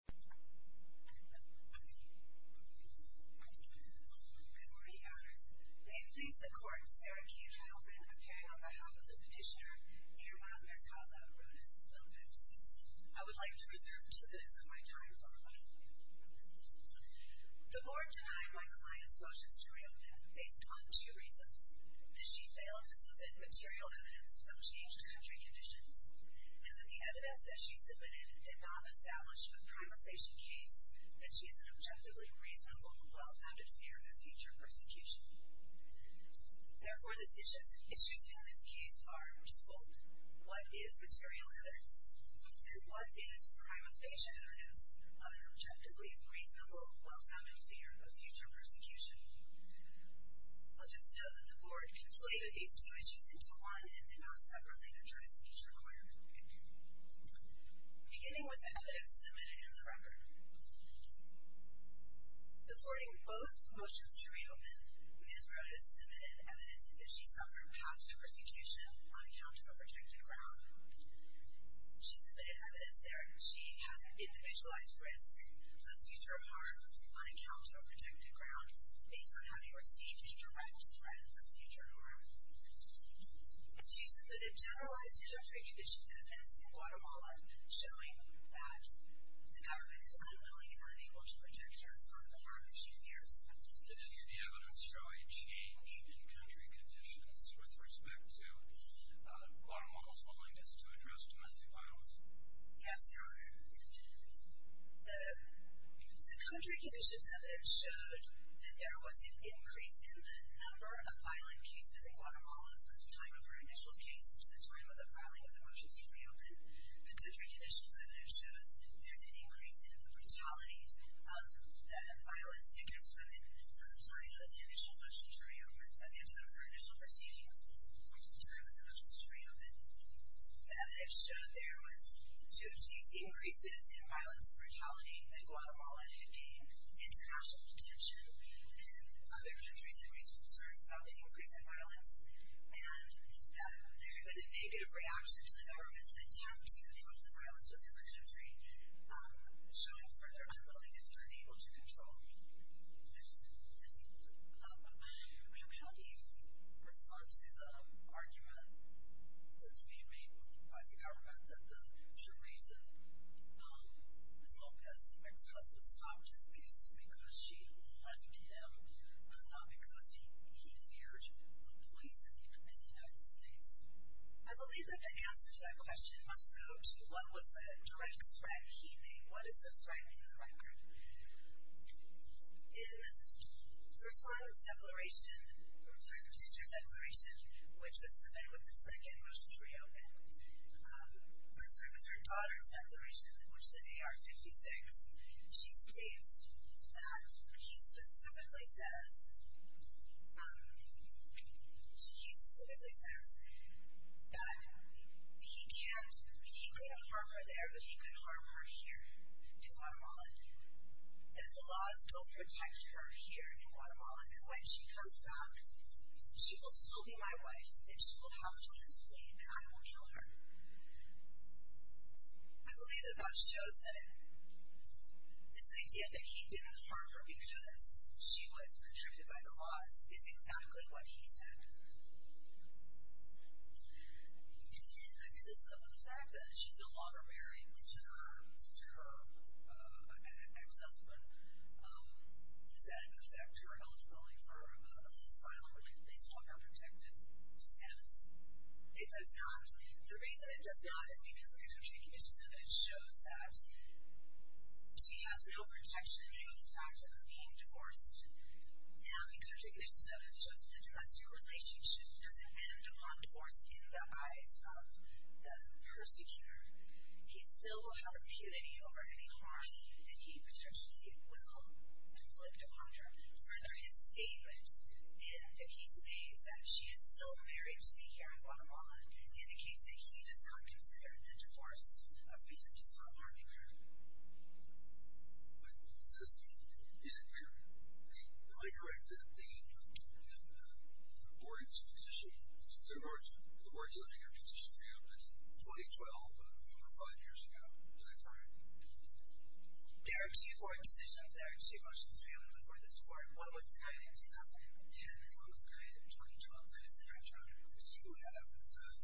I would like to reserve two minutes of my time for a moment. The board denied my client's motions to reopen based on two reasons. That she failed to submit material evidence of changed country conditions, and that the that she is an objectively reasonable, well-founded fear of future persecution. Therefore, the issues in this case are twofold. What is material evidence? And what is prima facie evidence of an objectively reasonable, well-founded fear of future persecution? I'll just note that the board conflated these two issues into one and did not separately address each requirement. Beginning with evidence submitted in the record. According to both motions to reopen, Ms. Rodas submitted evidence that she suffered past persecution on account of a protected ground. She submitted evidence there that she has individualized risk of a future harm on account of a protected ground based on having received a direct threat of future harm. She submitted generalized country conditions evidence in Guatemala showing that the government is unwilling and unable to protect her from the harm that she fears. Did any of the evidence show a change in country conditions with respect to Guatemala's willingness to address domestic violence? Yes, Your Honor. The country conditions evidence showed that there was an increase in the number of violent cases in Guatemala from the time of her initial case to the time of the filing of the motions to reopen. The country conditions evidence shows there's an increase in the brutality of the violence against women from the time of her initial proceedings to the time of the motions to reopen. The evidence showed there was two-tieth increases in violence and brutality that Guatemala had seen international attention in other countries and raised concerns about the increase in violence and that there had been a negative reaction to the government's attempt to control the violence within the country, showing further unwillingness and unable to control it. Thank you. I cannot even respond to the argument that's being made by the government that the short reason Ms. Lopez's ex-husband stopped his case is because she loved him, not because he feared the police in the United States. I believe that the answer to that question must go to what was the direct threat he made. What is the threat in the record? In the First Violence Declaration, which was submitted with the second motion to reopen, I'm sorry, with her daughter's declaration, which is in AR-56, she states that he specifically says that he can't, he couldn't harm her there, but he could harm her here in Guatemala. And if the laws don't protect her here in Guatemala, then when she comes back, she will still be my wife and she will have to explain that I won't kill her. I believe that much shows that this idea that he didn't harm her because she was protected by the laws is exactly what he said. And I mean, the fact that she's no longer married to her ex-husband, does that affect her eligibility for asylum based on her protective status? It does not. The reason it does not is because the country conditions of it shows that she has no protection due to the fact that they're being divorced. Now the country conditions of it shows that the domestic relationship doesn't end upon divorce in the eyes of the persecutor. He still will have impunity over any harm that he potentially will inflict upon her. Further, his statement that he's amazed that she is still married to be here in Guatemala indicates that he does not consider the divorce a reason to stop harming her. But is it true, am I correct, that the Borg's position, the Borg's litigation failed in 2012, over five years ago? Is that correct? There are two court decisions, there are two motions failed before this court. One was denied in 2010 and one was denied in 2012. That is correct, Your Honor.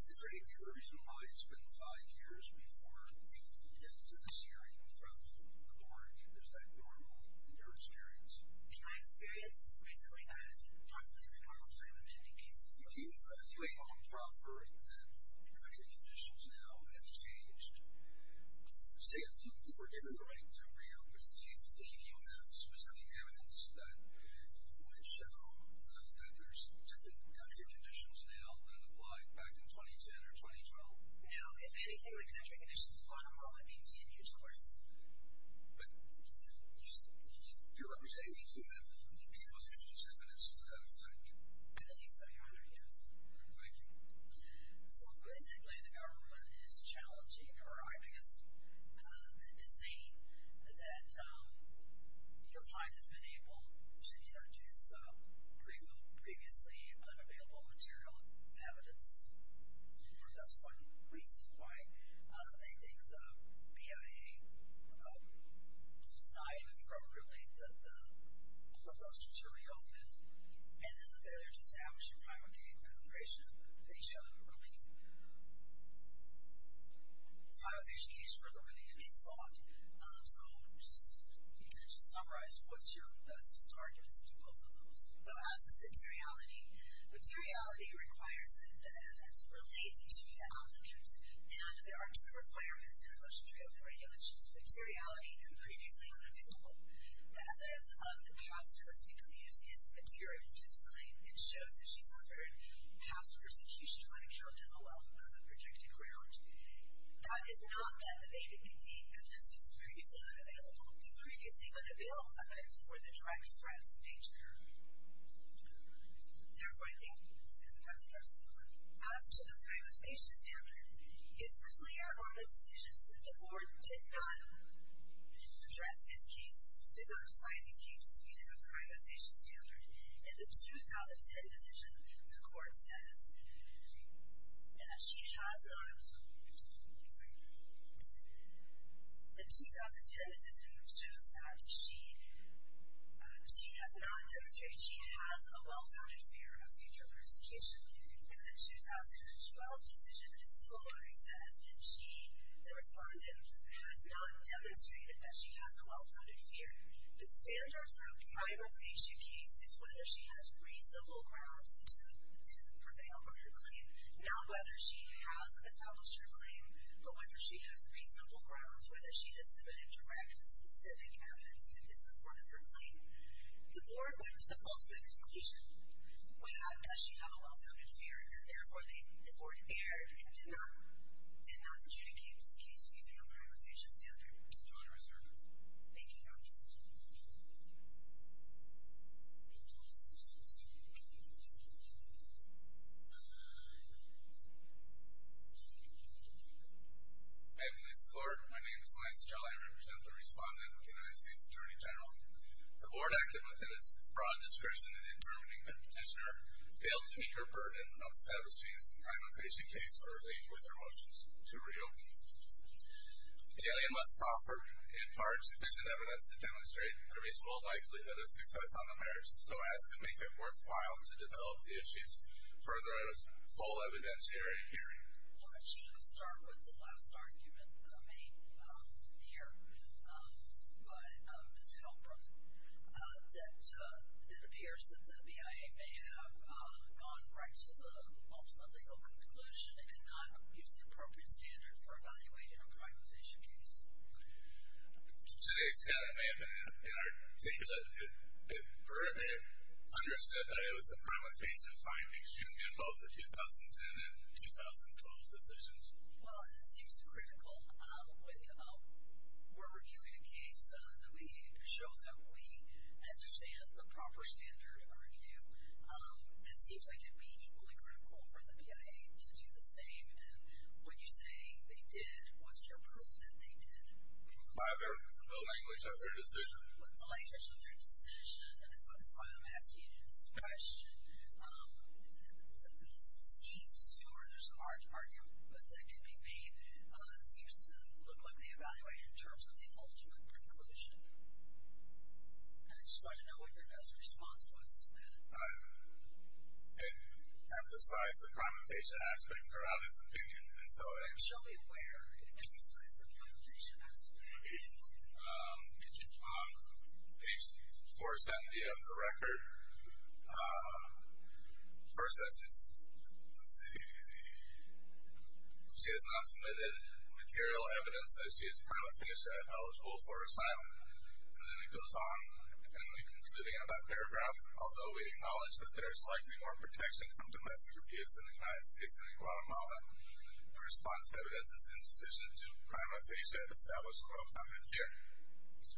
Is there any reason why it's been five years before the end of this hearing from the Borg? Is that normal in your experience? In my experience, basically not. It's approximately the normal time of ending cases. Do you evaluate on proffer that country conditions now have changed? Say that you were given the right to reopen. Do you think you have specific evidence that would show that there's different country conditions now than applied back in 2010 or 2012? No. If anything, the country conditions in Guatemala would continue to worsen. But you're representing, you'd be able to introduce evidence to that effect. I believe so, Your Honor, yes. Thank you. So, basically, the government is challenging or I think is saying that your client has been able to introduce previously unavailable material evidence. That's one reason why they think the PIA denied appropriately the proposal to reopen. And then the failure to establish a primary accreditation, they should repeat the primary accreditation for the release to be sought. So, just to summarize, what's your best arguments to both of those? Well, as is materiality. Materiality requires that the evidence relate to the applicant. And there are two requirements in the motion to reopen regulations. Materiality and previously unavailable evidence of the past touristy commusion is material to the claim. It shows that she suffered past persecution when held to the wealth of a protected ground. That is not that the evidence is previously unavailable. The previously unavailable evidence were the driving threats of nature. Therefore, I think that's your best argument. As to the privatization standard, it's clear on the decisions that the board did not address these cases, did not apply these cases using a privatization standard. In the 2010 decision, the court says that she has not demonstrated she has a well-founded fear of future persecution. In the 2012 decision, the disciplinary says that she, the respondent, has not demonstrated that she has a well-founded fear. The standard for a privatization case is whether she has reasonable grounds to prevail on her claim. Not whether she has established her claim, but whether she has reasonable grounds, whether she has submitted direct and specific evidence in support of her claim. The board went to the ultimate conclusion, without does she have a well-founded fear, and therefore the board erred and did not adjudicate this case using a privatization standard. Thank you, Your Honor. I am pleased to be here. My name is Lance Gell. I represent the respondent for the United States Attorney General. The board acted within its broad discretion in determining that the petitioner failed to meet her burden of establishing a privatization case for a link with her motions to reopen. The alien must proffer, in part, sufficient evidence to demonstrate a reasonable likelihood of success on the marriage, so as to make it worthwhile to develop the issues. Further, there is full evidence herein hearing. Why don't you start with the last argument made here by Ms. Holbrook, that it appears that the BIA may have gone right to the ultimate legal conclusion and not used the appropriate standard for evaluating a privatization case. To the extent it may have been in our data, it may have understood that it was a promiscuous finding. Should we involve the 2010 and 2012 decisions? Well, that seems critical. We're reviewing a case that we show that we understand the proper standard to review. It seems like it would be equally critical for the BIA to do the same. And when you say they did, what's your proof that they did? The language of their decision. The language of their decision. And that's why I'm asking you this question. It seems to, or there's an argument that can be made, it seems to look like they evaluated in terms of the ultimate conclusion. I just wanted to know what your best response was to that. It emphasized the connotation aspect throughout its opinion, and so it actually, where it emphasizes the connotation aspect, it's on page 470 of the record. First, it says she has not submitted material evidence that she is private financially eligible for asylum. And then it goes on, and we conclude again by paragraph, although we acknowledge that there is likely more protection from domestic abuse in the United States than in Guatemala. Her response to evidence is insufficient to prima facie and establish a law of family fear,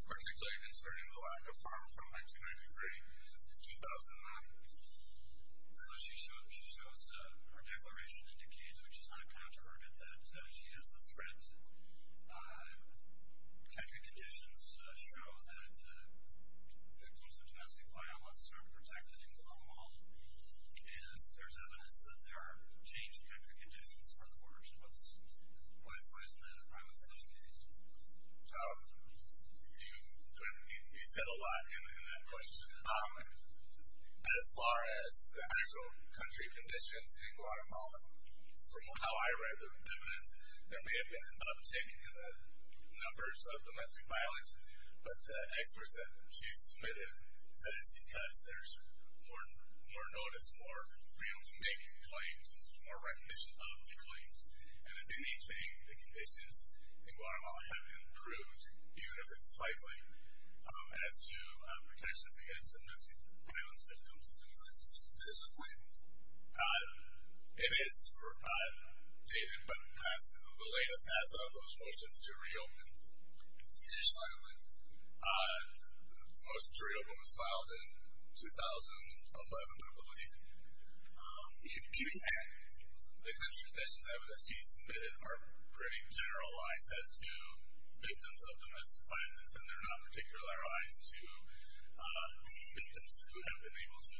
particularly concerning the lack of farm from 1993 to 2009. So she shows her declaration indicates, which is not a counterargument, that she is a threat. Country conditions show that victims of domestic violence are protected in Guatemala, and there's evidence that there are changed country conditions for the worst. What is the prima facie case? You said a lot in that question. From how I read the evidence, there may have been an uptick in the numbers of domestic violence, but experts that she submitted said it's because there's more notice, more freedom to make claims, and there's more recognition of the claims. And if anything, the conditions in Guatemala have improved, even if it's slightly, as to protections against domestic violence victims in the United States. This is a claim. It is dated but has the latest as of those motions to reopen. Additionally, the motion to reopen was filed in 2011, I believe. The country conditions that she submitted are pretty generalized as to victims of domestic violence, and they're not particularized to victims who have been able to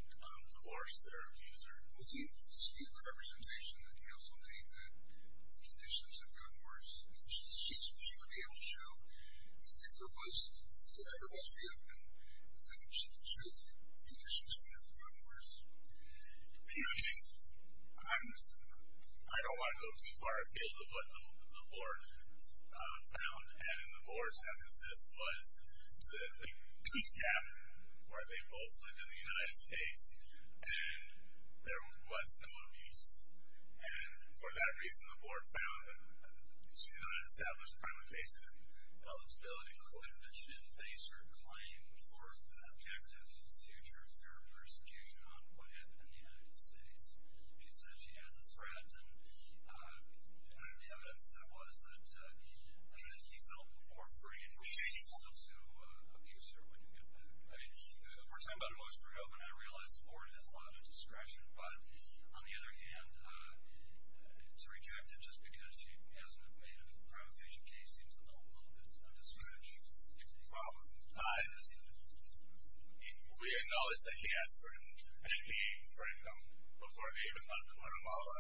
divorce their abuser. Well, do you dispute the representation that counsel made that the conditions have gotten worse? She would be able to show, if there was freedom, then she could show the conditions wouldn't have gotten worse? You know, I don't want to go too far afield of what the board found, and the board's emphasis was the gap where they both lived in the United States and there was no abuse. And for that reason, the board found that she did not establish prima facie eligibility. But she didn't face her claim towards the objective in the future of her persecution on Puebla in the United States. She said she had to threaten. One of the evidence that was that he felt more free and was able to abuse her when he did that. The first time that I heard about her motion to reopen, I realized the board has a lot of discretion. But on the other hand, to reject it just because she hasn't made a prima facie case seems a little bit of a distraction. Well, we acknowledge that he has certain, and he framed them before they even left Guatemala.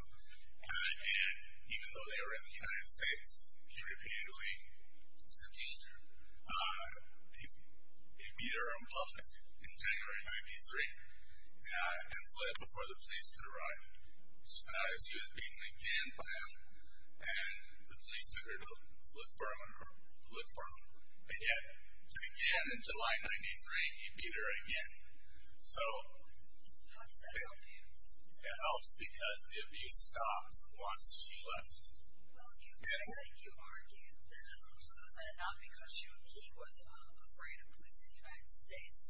And even though they were in the United States, he repeatedly accused her. He beat her on public in January of 1993 and fled before the police could arrive. She was beaten again by him, and the police took her to the police department again. And again in July of 1993, he beat her again. How does that help you? It helps because the abuse stopped once she left. Well, you argue that not because he was afraid of police in the United States,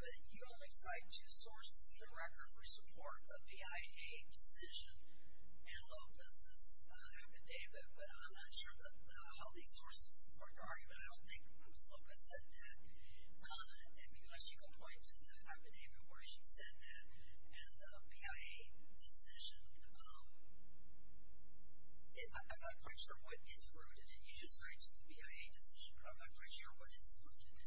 but you only cite two sources in the record for support, the PIA decision and Lopez's affidavit. But I'm not sure how these sources support your argument. I don't think it was Lopez that did. Unless you go back to the affidavit where she said that, and the PIA decision, I'm not quite sure what interrogated it. You just started to do the PIA decision, but I'm not quite sure what interrogated it.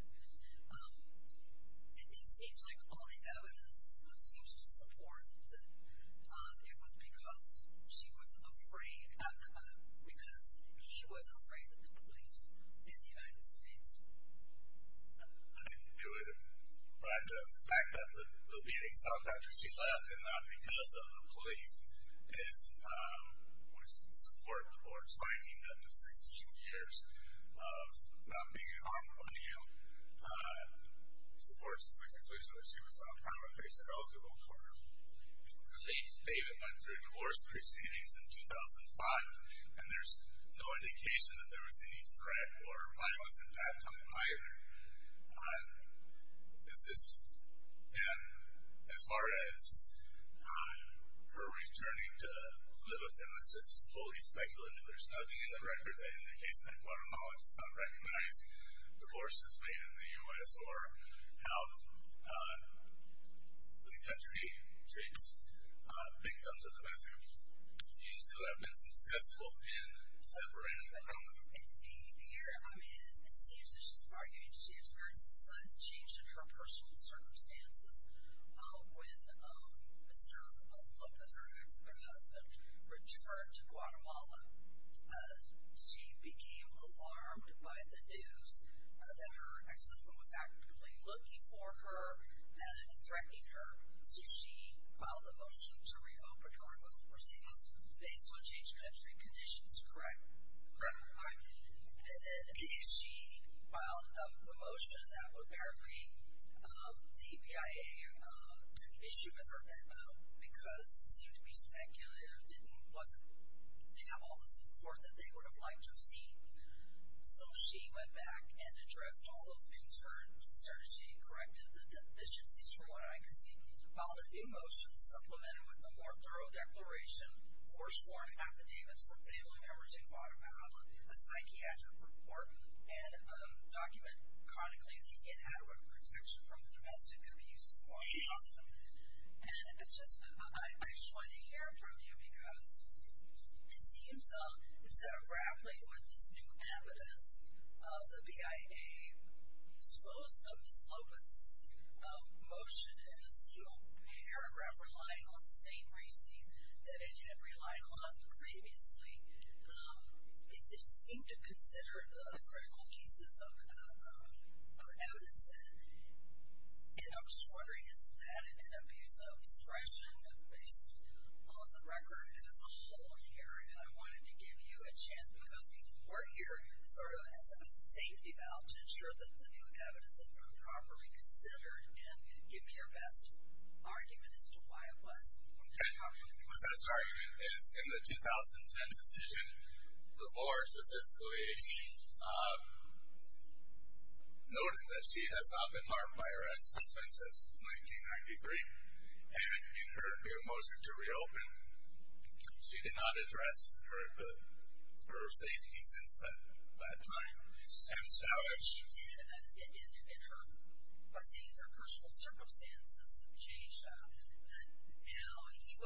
It seems like all the evidence seems to support that it was because she was afraid, because she was afraid of the police in the United States. I knew it. But the fact that the beating stopped after she left and not because of the police is support for explaining that the 16 years of not being harmed by you supports the conclusion that she was out of her face and eligible for complete, they even went through divorce proceedings in 2005, and there's no indication that there was any threat or violence in that time either. It's just, as far as her returning to live with him, it's just fully speculative. There's nothing in the record that indicates that a quaternionologist is not recognizing divorces made in the U.S. or how the country treats victims of domestic abuse. You still have been successful in separating the family. And here, I mean, it seems that she's arguing she experienced a sudden change in her personal circumstances when Mr. Lopez, her ex-husband, returned to Guatemala. She became alarmed by the news that her ex-husband was actively looking for her and threatening her. So she filed a motion to reopen her divorce proceedings based on change in entry conditions, correct? Correct. And if she filed a motion, that would mean the EPIA took issue with her memo because it seemed to be speculative, didn't have all the support that they would have liked to receive. So she went back and addressed all those concerns. She corrected the deficiencies, from what I can see. Filed a new motion supplemented with a more thorough declaration, force-formed an affidavit for failing coverage in Guatemala, a psychiatric report, and a document chronicling the inadequate protection from domestic abuse in Guatemala. And I just wanted to hear from you because it seems, instead of grappling with this new evidence, the BIA disposed of Ms. Lopez's motion in a single paragraph relying on the same reasoning that it had relied on previously. It didn't seem to consider the critical pieces of evidence. And I was just wondering, isn't that an abuse of discretion based on the record as a whole here? And I wanted to give you a chance because we're here sort of as a safety valve to ensure that the new evidence is properly considered. And give me your best argument as to why it was. My best argument is in the 2010 decision, the board specifically noted that she has not been harmed by her ex-husband since 1993. And in her new motion to reopen, she did not address her safety since that time. And so she did, and her personal circumstances have changed. Now he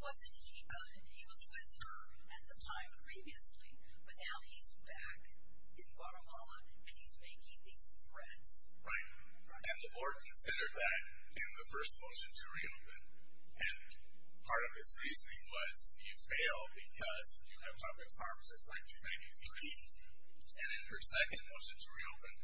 was with her at the time previously, but now he's back in Guatemala and he's making these threats. Right. And the board considered that in the first motion to reopen. And part of its reasoning was you fail because you have not been harmed since 1993. And in her second motion to reopen,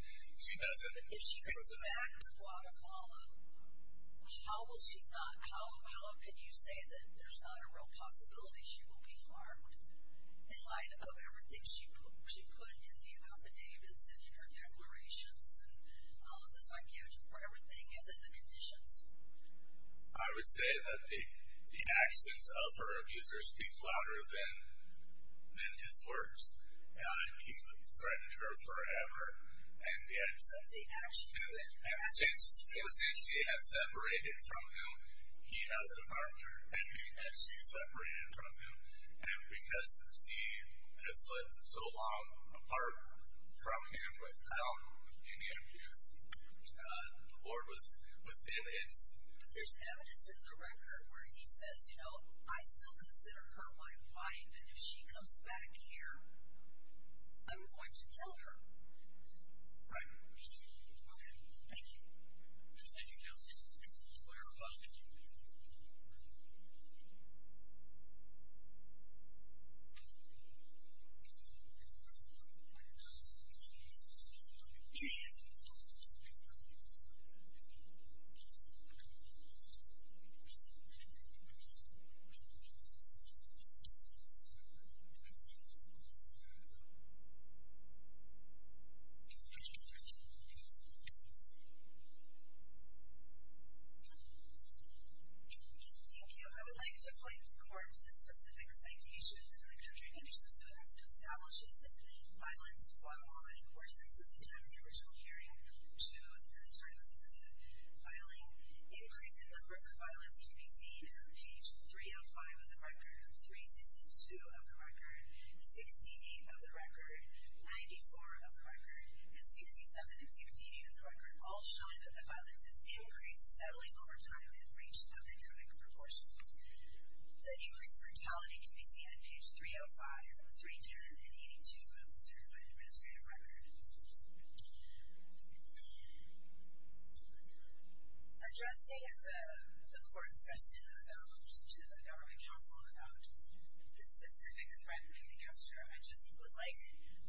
she doesn't. If she goes back to Guatemala, how can you say that there's not a real possibility she will be harmed in light of everything she put in the affidavits and in her declarations and the psychiatric or everything and the conditions? I would say that the actions of her abusers speak louder than his words. And he's threatened her forever. And yet they actually do it. And since she has separated from him, he has a partner. And she separated from him. And because she has lived so long apart from him without any abuse, the board was in it. There's evidence in the record where he says, you know, I still consider her my wife, and if she comes back here, I'm going to kill her. Right. Okay. Thank you. Thank you. I would like to point the court to the specific citations in the country conditions that establishes that violence in Guatemala increases since the time of the original hearing to the time of the filing. Increase in numbers of violence can be seen on page 305 of the record, 362 of the record, 68 of the record, 94 of the record, and 67 and 68 of the record, all showing that the violence has increased steadily over time in range of economic proportions. The increased brutality can be seen on page 305, 310, and 82 of the certified administrative record. Thank you. Addressing the court's question to the government counsel about the specific threat made against her, I just would like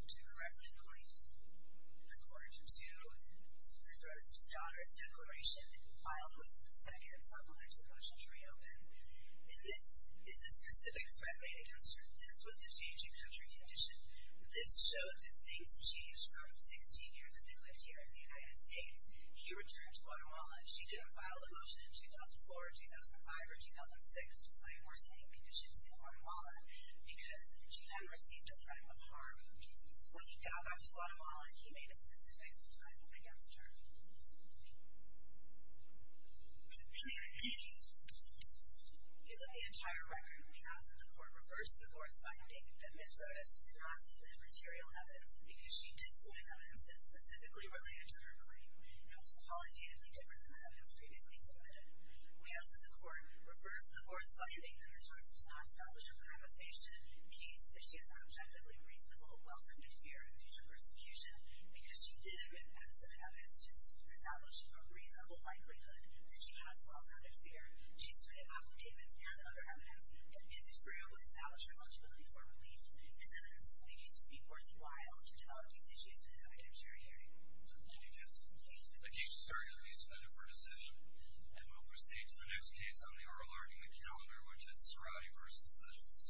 to correct, according to the court, to Ms. Rose's daughter's declaration filed within the second supplemental motion to reopen. This is the specific threat made against her. This was the changing country condition. This showed that things changed from 16 years of new life here in the United States. He returned to Guatemala. She didn't file the motion in 2004, 2005, or 2006 to sign more staying conditions in Guatemala because she then received a threat of harm. When he got back to Guatemala, he made a specific threat against her. The entire record, we ask that the court refers to the court's finding that Ms. Rose did not submit material evidence because she did submit evidence that is specifically related to her claim. That was qualitatively different than the evidence previously submitted. We ask that the court refers to the court's finding that Ms. Rose did not establish a gravitation case if she has an objectively reasonable, well-founded fear of future persecution because she did submit evidence to establish a reasonable likelihood that she has well-founded fear. She submitted applications and other evidence. If Ms. Rose would establish her eligibility for relief, it's evidence that indicates it would be worthwhile to develop these issues to the judiciary hearing. Thank you, Judge. The case is currently being submitted for decision. And we'll proceed to the next case on the oral argument calendar, which is Soraya v. Sessions.